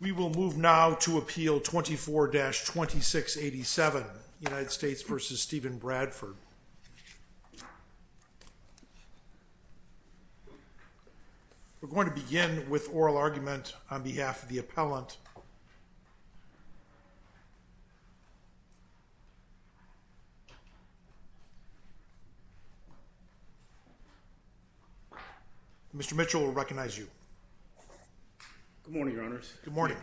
We're going to begin with oral argument on behalf of the appellant. Mr. Mitchell will recognize you. Good morning, Your Honors. Good morning.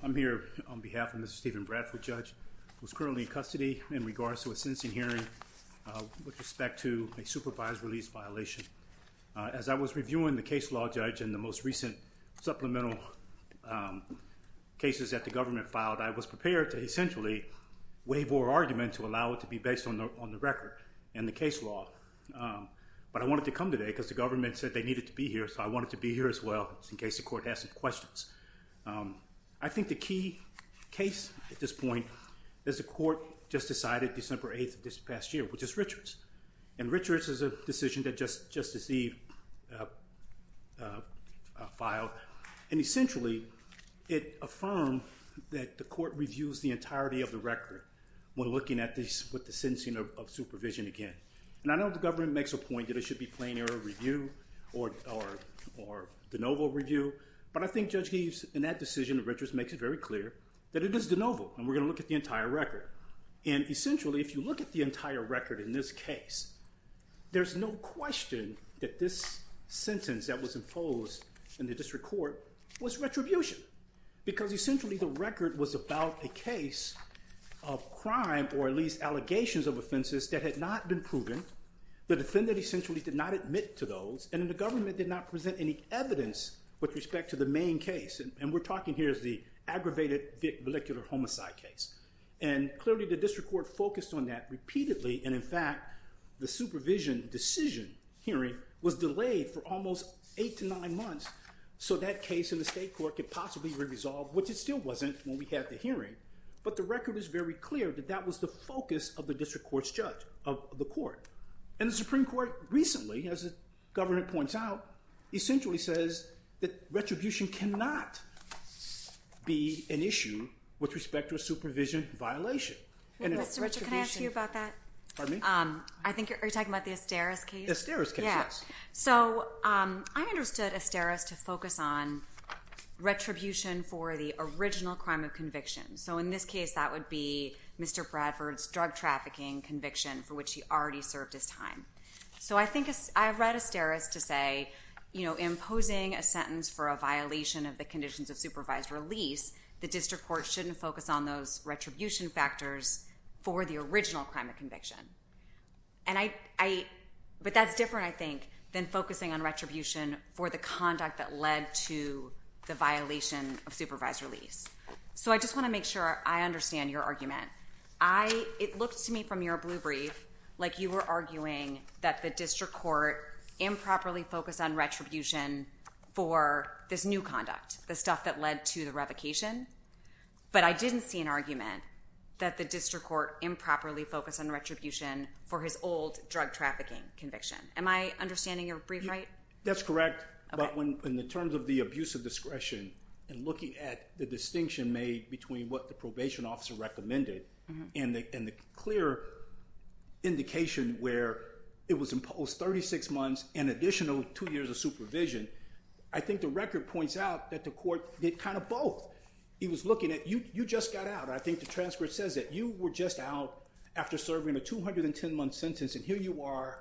I'm here on behalf of Mr. Steven Bradford, Judge, who is currently in custody in regards to a sentencing hearing with respect to a supervised release violation. As I was reviewing the case law, Judge, and the most recent supplemental cases that the government filed, I was prepared to essentially waive oral argument to allow it to be based on the record and the case law. But I wanted to come today because the government said they needed to be here, so I wanted to be here as well in case the court has some questions. I think the key case at this point is the court just decided December 8th of this past year, which is Richards. And Richards is a decision that Justice Eve filed. And essentially, it affirmed that the court reviews the entirety of the record when looking at this with the sentencing of supervision again. And I know the government makes a point that it should be plain error review or de novo review. But I think Judge Eve, in that decision of Richards, makes it very clear that it is de novo and we're going to look at the entire record. And essentially, if you look at the entire record in this case, there's no question that this sentence that was imposed in the district court was retribution. Because essentially, the record was about a case of crime or at least allegations of offenses that had not been proven, the defendant essentially did not admit to those, and the government did not present any evidence with respect to the main case. And we're talking here as the aggravated molecular homicide case. And clearly, the district court focused on that repeatedly. And in fact, the supervision decision hearing was delayed for almost eight to nine months so that case in the state court could possibly be resolved, which it still wasn't when we had the hearing. But the record is very clear that that was the focus of the district court's judge, of the court. And the Supreme Court recently, as the government points out, essentially says that retribution cannot be an issue with respect to a supervision violation. Mr. Richard, can I ask you about that? Pardon me? I think you're talking about the Asteris case? The Asteris case, yes. So I understood Asteris to focus on retribution for the original crime of conviction. So in this case, that would be Mr. Bradford's drug trafficking conviction for which he already served his time. So I think I read Asteris to say imposing a sentence for a violation of the conditions of supervised release, the district court shouldn't focus on those retribution factors for the original crime of conviction. But that's different, I think, than focusing on retribution for the conduct that led to the violation of supervised release. So I just want to make sure I understand your argument. It looked to me from your blue brief like you were arguing that the district court improperly focused on retribution for this new conduct, the stuff that led to the revocation. But I didn't see an argument that the district court improperly focused on retribution for his old drug trafficking conviction. Am I understanding your brief right? That's correct. But in terms of the abuse of discretion and looking at the distinction made between what the probation officer recommended and the clear indication where it was imposed 36 months and additional two years of supervision, I think the record points out that the court did kind of both. It was looking at you just got out. I think the transcript says that you were just out after serving a 210-month sentence, and here you are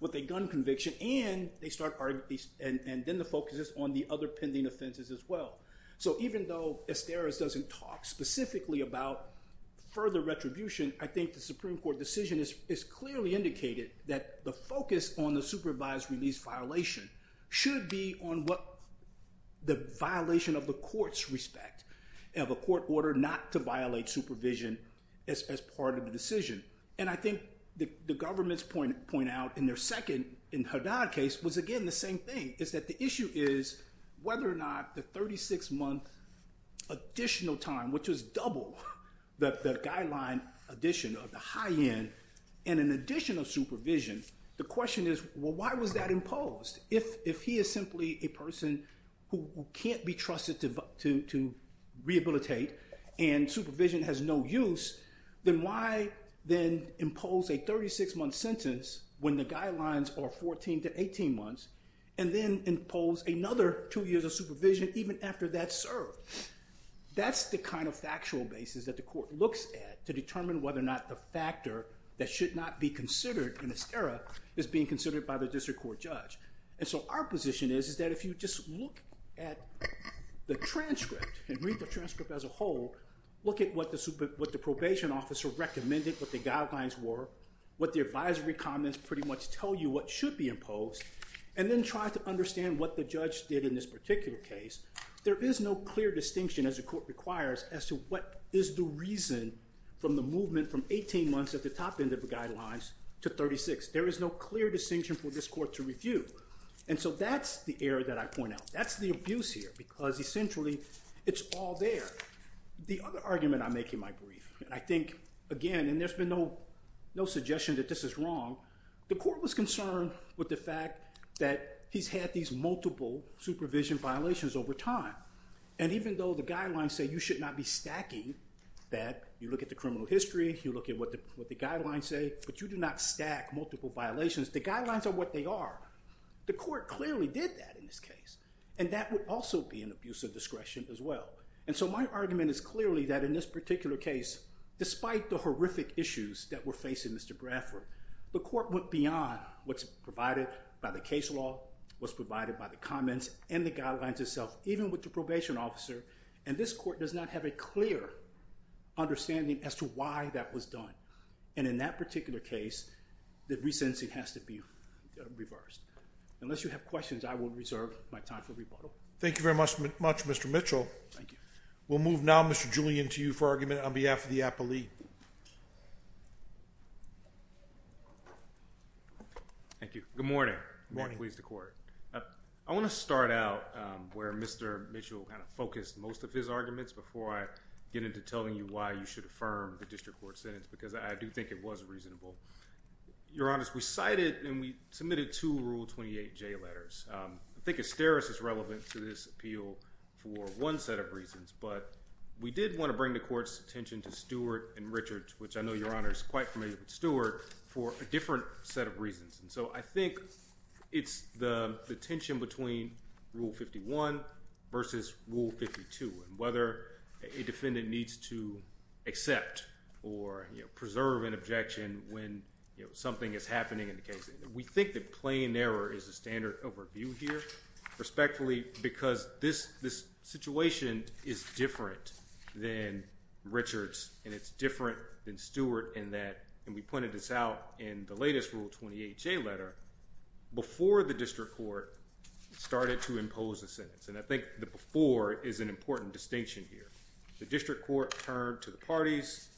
with a gun conviction, and then the focus is on the other pending offenses as well. So even though Esteros doesn't talk specifically about further retribution, I think the Supreme Court decision has clearly indicated that the focus on the supervised release violation should be on what the violation of the court's respect of a court order not to violate supervision as part of the decision. And I think the government's point out in their second Haddad case was, again, the same thing, is that the issue is whether or not the 36-month additional time, which was double the guideline addition of the high end, and an additional supervision, the question is, well, why was that imposed? If he is simply a person who can't be trusted to rehabilitate and supervision has no use, then why then impose a 36-month sentence when the guidelines are 14 to 18 months, and then impose another two years of supervision even after that's served? That's the kind of factual basis that the court looks at to determine whether or not the factor that should not be considered in this era is being considered by the district court judge. And so our position is that if you just look at the transcript and read the transcript as a whole, look at what the probation officer recommended, what the guidelines were, what the advisory comments pretty much tell you what should be imposed, and then try to understand what the judge did in this particular case, there is no clear distinction, as the court requires, as to what is the reason from the movement from 18 months at the top end of the guidelines to 36. There is no clear distinction for this court to review. And so that's the error that I point out. That's the abuse here, because essentially it's all there. The other argument I make in my brief, and I think, again, and there's been no suggestion that this is wrong, the court was concerned with the fact that he's had these multiple supervision violations over time. And even though the guidelines say you should not be stacking that, you look at the criminal history, you look at what the guidelines say, but you do not stack multiple violations. The guidelines are what they are. The court clearly did that in this case. And that would also be an abuse of discretion as well. And so my argument is clearly that in this particular case, despite the horrific issues that were facing Mr. Bradford, the court went beyond what's provided by the case law, what's provided by the comments, and the guidelines itself, even with the probation officer. And this court does not have a clear understanding as to why that was done. And in that particular case, the resentencing has to be reversed. Unless you have questions, I will reserve my time for rebuttal. Thank you very much, Mr. Mitchell. Thank you. We'll move now, Mr. Julian, to you for argument on behalf of the appellee. Thank you. Good morning. Good morning. I want to start out where Mr. Mitchell kind of focused most of his arguments before I get into telling you why you should affirm the district court sentence, because I do think it was reasonable. Your Honor, we cited and we submitted two Rule 28J letters. I think asterisks is relevant to this appeal for one set of reasons, but we did want to bring the court's attention to Stewart and Richards, which I know Your Honor is quite familiar with Stewart, for a different set of reasons. And so I think it's the tension between Rule 51 versus Rule 52, and whether a defendant needs to accept or preserve an objection when something is happening in the case. We think that plain error is the standard of review here, respectfully because this situation is different than Richards, and it's different than Stewart in that, and we pointed this out in the latest Rule 28J letter, before the district court started to impose a sentence, and I think the before is an important distinction here. The district court turned to the parties,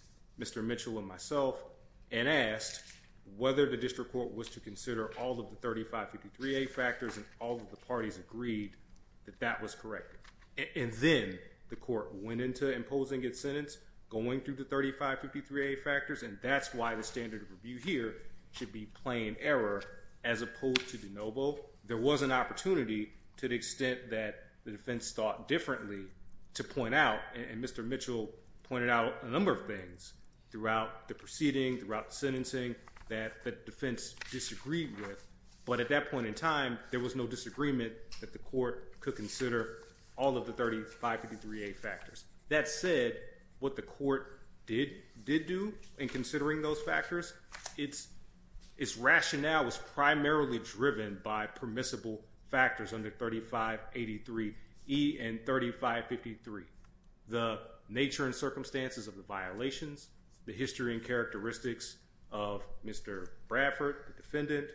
Mr. Mitchell and myself, and asked whether the district court was to consider all of the 3553A factors and all of the parties agreed that that was correct. And then the court went into imposing its sentence, going through the 3553A factors, and that's why the standard of review here should be plain error, as opposed to de novo. There was an opportunity to the extent that the defense thought differently to point out, and Mr. Mitchell pointed out a number of things throughout the proceeding, throughout the sentencing, that the defense disagreed with. But at that point in time, there was no disagreement that the court could consider all of the 3553A factors. That said, what the court did do in considering those factors, its rationale was primarily driven by permissible factors under 3583E and 3553. The nature and circumstances of the violations, the history and characteristics of Mr. Bradford, the defendant,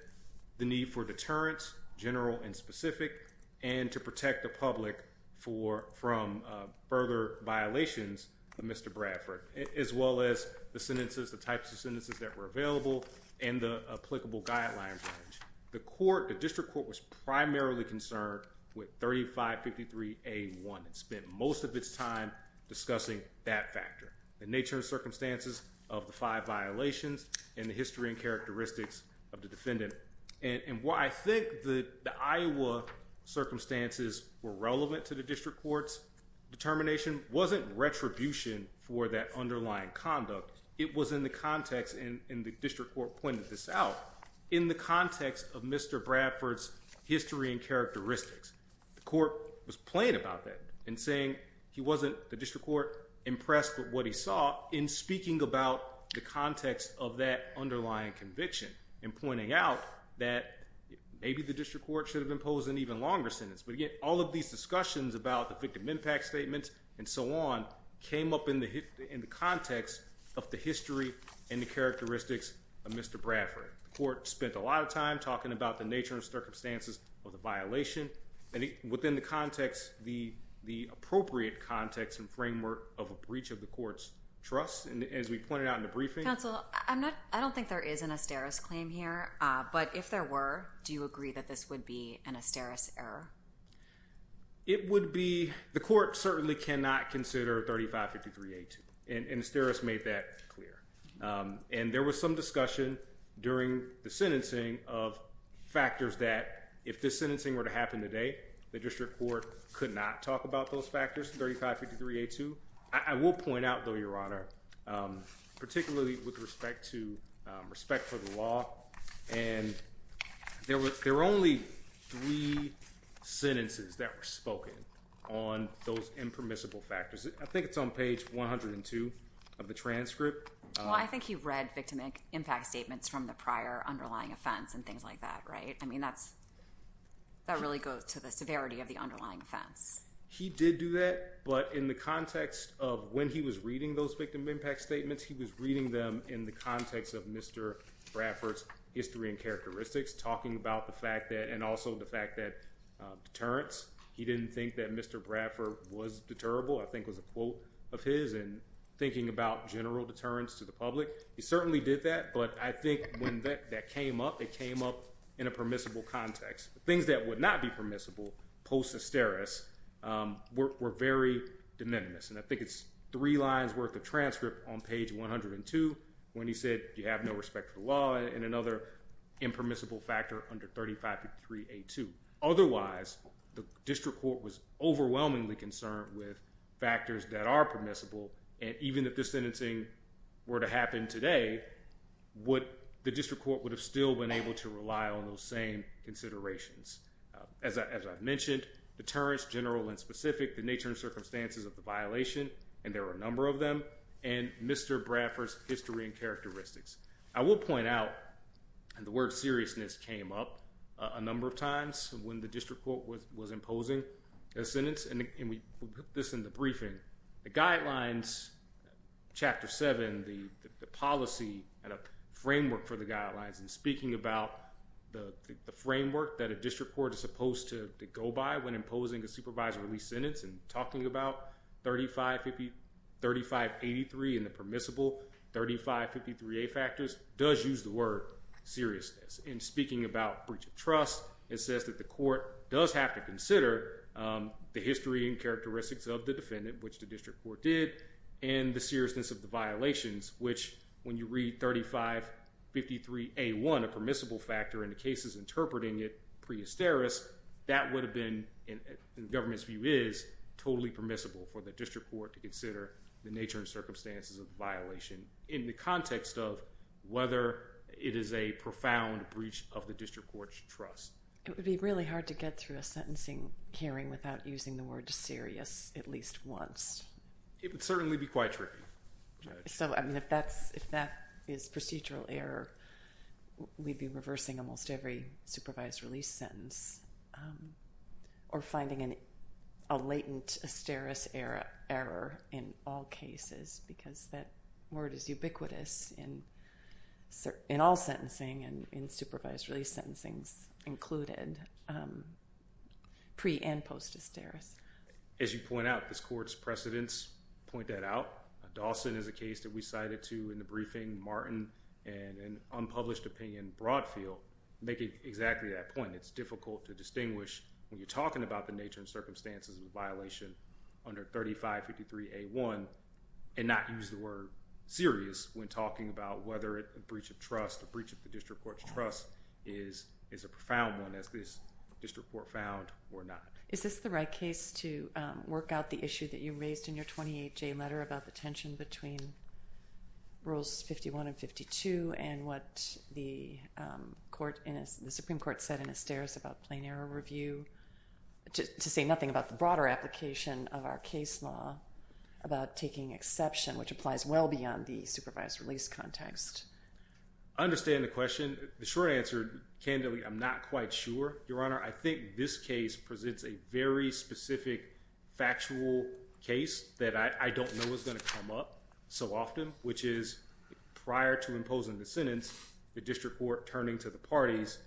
the need for deterrence, general and specific, and to protect the public from further violations of Mr. Bradford, as well as the sentences, the types of sentences that were available, and the applicable guidelines. The court, the district court, was primarily concerned with 3553A1. It spent most of its time discussing that factor, the nature and circumstances of the five violations and the history and characteristics of the defendant. I think the Iowa circumstances were relevant to the district court's determination. It wasn't retribution for that underlying conduct. It was in the context, and the district court pointed this out, in the context of Mr. Bradford's history and characteristics. The court was playing about that and saying he wasn't, the district court, impressed with what he saw in speaking about the context of that underlying conviction and pointing out that maybe the district court should have imposed an even longer sentence. But, again, all of these discussions about the victim impact statements and so on came up in the context of the history and the characteristics of Mr. Bradford. The court spent a lot of time talking about the nature and circumstances of the violation, and within the context, the appropriate context and framework of a breach of the court's trust. And as we pointed out in the briefing— Counsel, I don't think there is an Asteris claim here, but if there were, do you agree that this would be an Asteris error? It would be—the court certainly cannot consider 3553A2, and Asteris made that clear. And there was some discussion during the sentencing of factors that, if this sentencing were to happen today, the district court could not talk about those factors, 3553A2. I will point out, though, Your Honor, particularly with respect to—respect for the law, and there were only three sentences that were spoken on those impermissible factors. I think it's on page 102 of the transcript. Well, I think he read victim impact statements from the prior underlying offense and things like that, right? I mean, that really goes to the severity of the underlying offense. He did do that, but in the context of when he was reading those victim impact statements, he was reading them in the context of Mr. Bradford's history and characteristics, talking about the fact that—and also the fact that deterrence, he didn't think that Mr. Bradford was deterrable, I think was a quote of his, and thinking about general deterrence to the public. He certainly did that, but I think when that came up, it came up in a permissible context. Things that would not be permissible post-Asteris were very de minimis, and I think it's three lines worth of transcript on page 102 when he said you have no respect for the law and another impermissible factor under 35.3A2. Otherwise, the district court was overwhelmingly concerned with factors that are permissible, and even if this sentencing were to happen today, the district court would have still been able to rely on those same considerations. As I've mentioned, deterrence, general and specific, the nature and circumstances of the violation, and there are a number of them, and Mr. Bradford's history and characteristics. I will point out the word seriousness came up a number of times when the district court was imposing a sentence, and we put this in the briefing. The guidelines, Chapter 7, the policy and a framework for the guidelines in speaking about the framework that a district court is supposed to go by when imposing a supervisory sentence and talking about 35.83 and the permissible 35.53A factors does use the word seriousness. In speaking about breach of trust, it says that the court does have to consider the history and characteristics of the defendant, which the district court did, and the seriousness of the violations, which when you read 35.53A1, a permissible factor, and the case is interpreting it pre-Asteris, that would have been, in the government's view, is totally permissible for the district court to consider the nature and circumstances of the violation in the context of whether it is a profound breach of the district court's trust. It would be really hard to get through a sentencing hearing without using the word serious at least once. It would certainly be quite tricky. So, I mean, if that is procedural error, we'd be reversing almost every supervised release sentence or finding a latent Asteris error in all cases because that word is ubiquitous in all sentencing and in supervised release sentencings included pre- and post-Asteris. As you point out, this court's precedents point that out. Dawson is a case that we cited too in the briefing. Martin and an unpublished opinion, Broadfield, make exactly that point. It's difficult to distinguish when you're talking about the nature and circumstances of the violation under 3553A1 and not use the word serious when talking about whether a breach of trust, a breach of the district court's trust is a profound one, as this district court found or not. Is this the right case to work out the issue that you raised in your 28J letter about the tension between Rules 51 and 52 and what the Supreme Court said in Asteris about plain error review to say nothing about the broader application of our case law about taking exception, which applies well beyond the supervised release context? I understand the question. The short answer, candidly, I'm not quite sure, Your Honor. I think this case presents a very specific factual case that I don't know is going to come up so often, which is prior to imposing the sentence, the district court turning to the parties,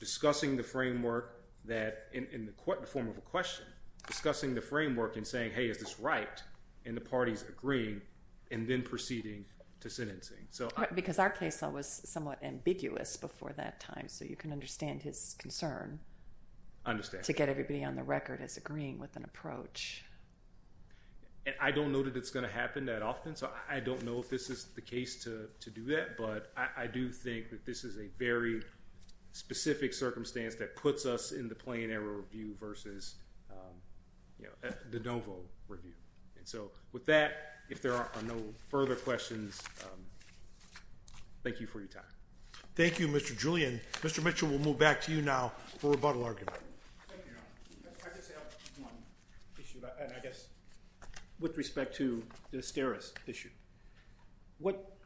discussing the framework that, in the form of a question, discussing the framework and saying, hey, is this right, and the parties agreeing, and then proceeding to sentencing. Because our case law was somewhat ambiguous before that time, so you can understand his concern to get everybody on the record as agreeing with an approach. I don't know that it's going to happen that often, so I don't know if this is the case to do that, but I do think that this is a very specific circumstance that puts us in the plain error review versus the de novo review. So with that, if there are no further questions, thank you for your time. Thank you, Mr. Julian. Mr. Mitchell, we'll move back to you now for rebuttal argument. Thank you, Your Honor. I just have one issue, and I guess with respect to the Asteris issue. What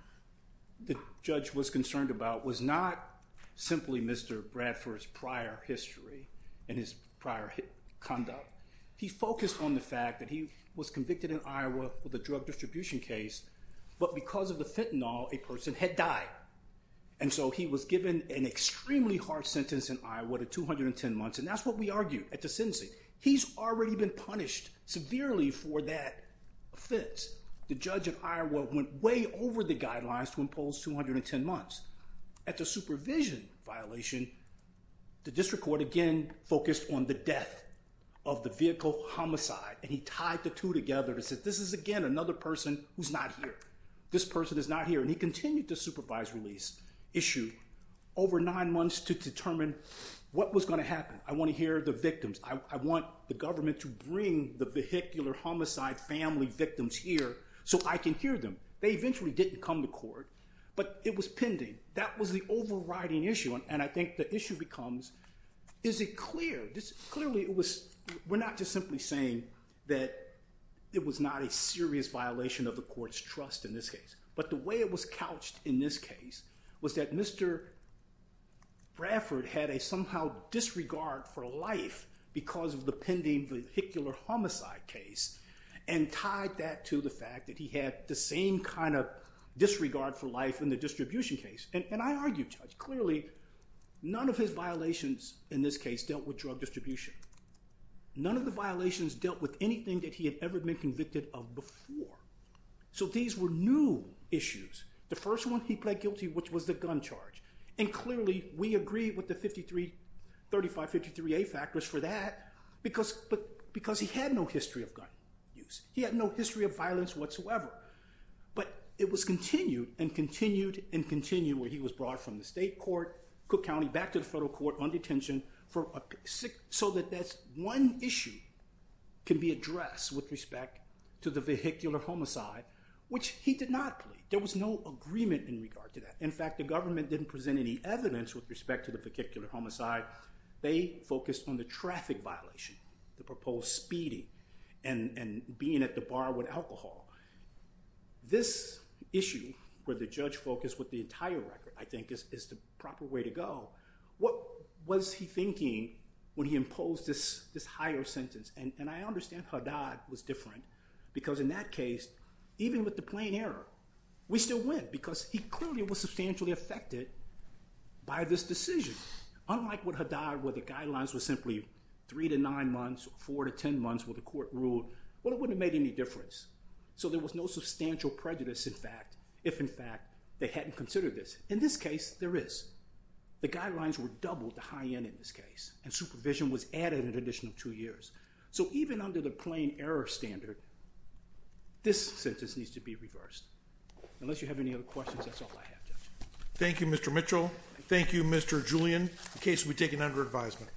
the judge was concerned about was not simply Mr. Bradford's prior history and his prior conduct. He focused on the fact that he was convicted in Iowa with a drug distribution case, but because of the fentanyl, a person had died, and so he was given an extremely hard sentence in Iowa to 210 months, and that's what we argued at the sentencing. He's already been punished severely for that offense. The judge in Iowa went way over the guidelines to impose 210 months. At the supervision violation, the district court, again, focused on the death of the vehicle homicide, and he tied the two together and said this is, again, another person who's not here. This person is not here, and he continued to supervise release issue over nine months to determine what was going to happen. I want to hear the victims. I want the government to bring the vehicular homicide family victims here so I can hear them. They eventually didn't come to court, but it was pending. That was the overriding issue, and I think the issue becomes is it clear? Clearly, we're not just simply saying that it was not a serious violation of the court's trust in this case, but the way it was couched in this case was that Mr. Bradford had a somehow disregard for life because of the pending vehicular homicide case and tied that to the fact that he had the same kind of disregard for life in the distribution case, and I argued, Judge. Clearly, none of his violations in this case dealt with drug distribution. None of the violations dealt with anything that he had ever been convicted of before, so these were new issues. The first one he pled guilty, which was the gun charge, and clearly we agreed with the 3553A factors for that because he had no history of gun use. He had no history of violence whatsoever, but it was continued and continued and continued where he was brought from the state court, Cook County, back to the federal court on detention so that that one issue can be addressed with respect to the vehicular homicide, which he did not plead. There was no agreement in regard to that. In fact, the government didn't present any evidence with respect to the vehicular homicide. They focused on the traffic violation, the proposed speeding and being at the bar with alcohol. This issue where the judge focused with the entire record, I think, is the proper way to go. What was he thinking when he imposed this higher sentence? And I understand Haddad was different because in that case, even with the plain error, we still win because he clearly was substantially affected by this decision. Unlike with Haddad where the guidelines were simply three to nine months, four to ten months where the court ruled, well, it wouldn't have made any difference. So there was no substantial prejudice, in fact, if, in fact, they hadn't considered this. In this case, there is. The guidelines were doubled to high end in this case and supervision was added an additional two years. So even under the plain error standard, this sentence needs to be reversed. Unless you have any other questions, that's all I have, Judge. Thank you, Mr. Mitchell. Thank you, Mr. Julian. The case will be taken under advisement.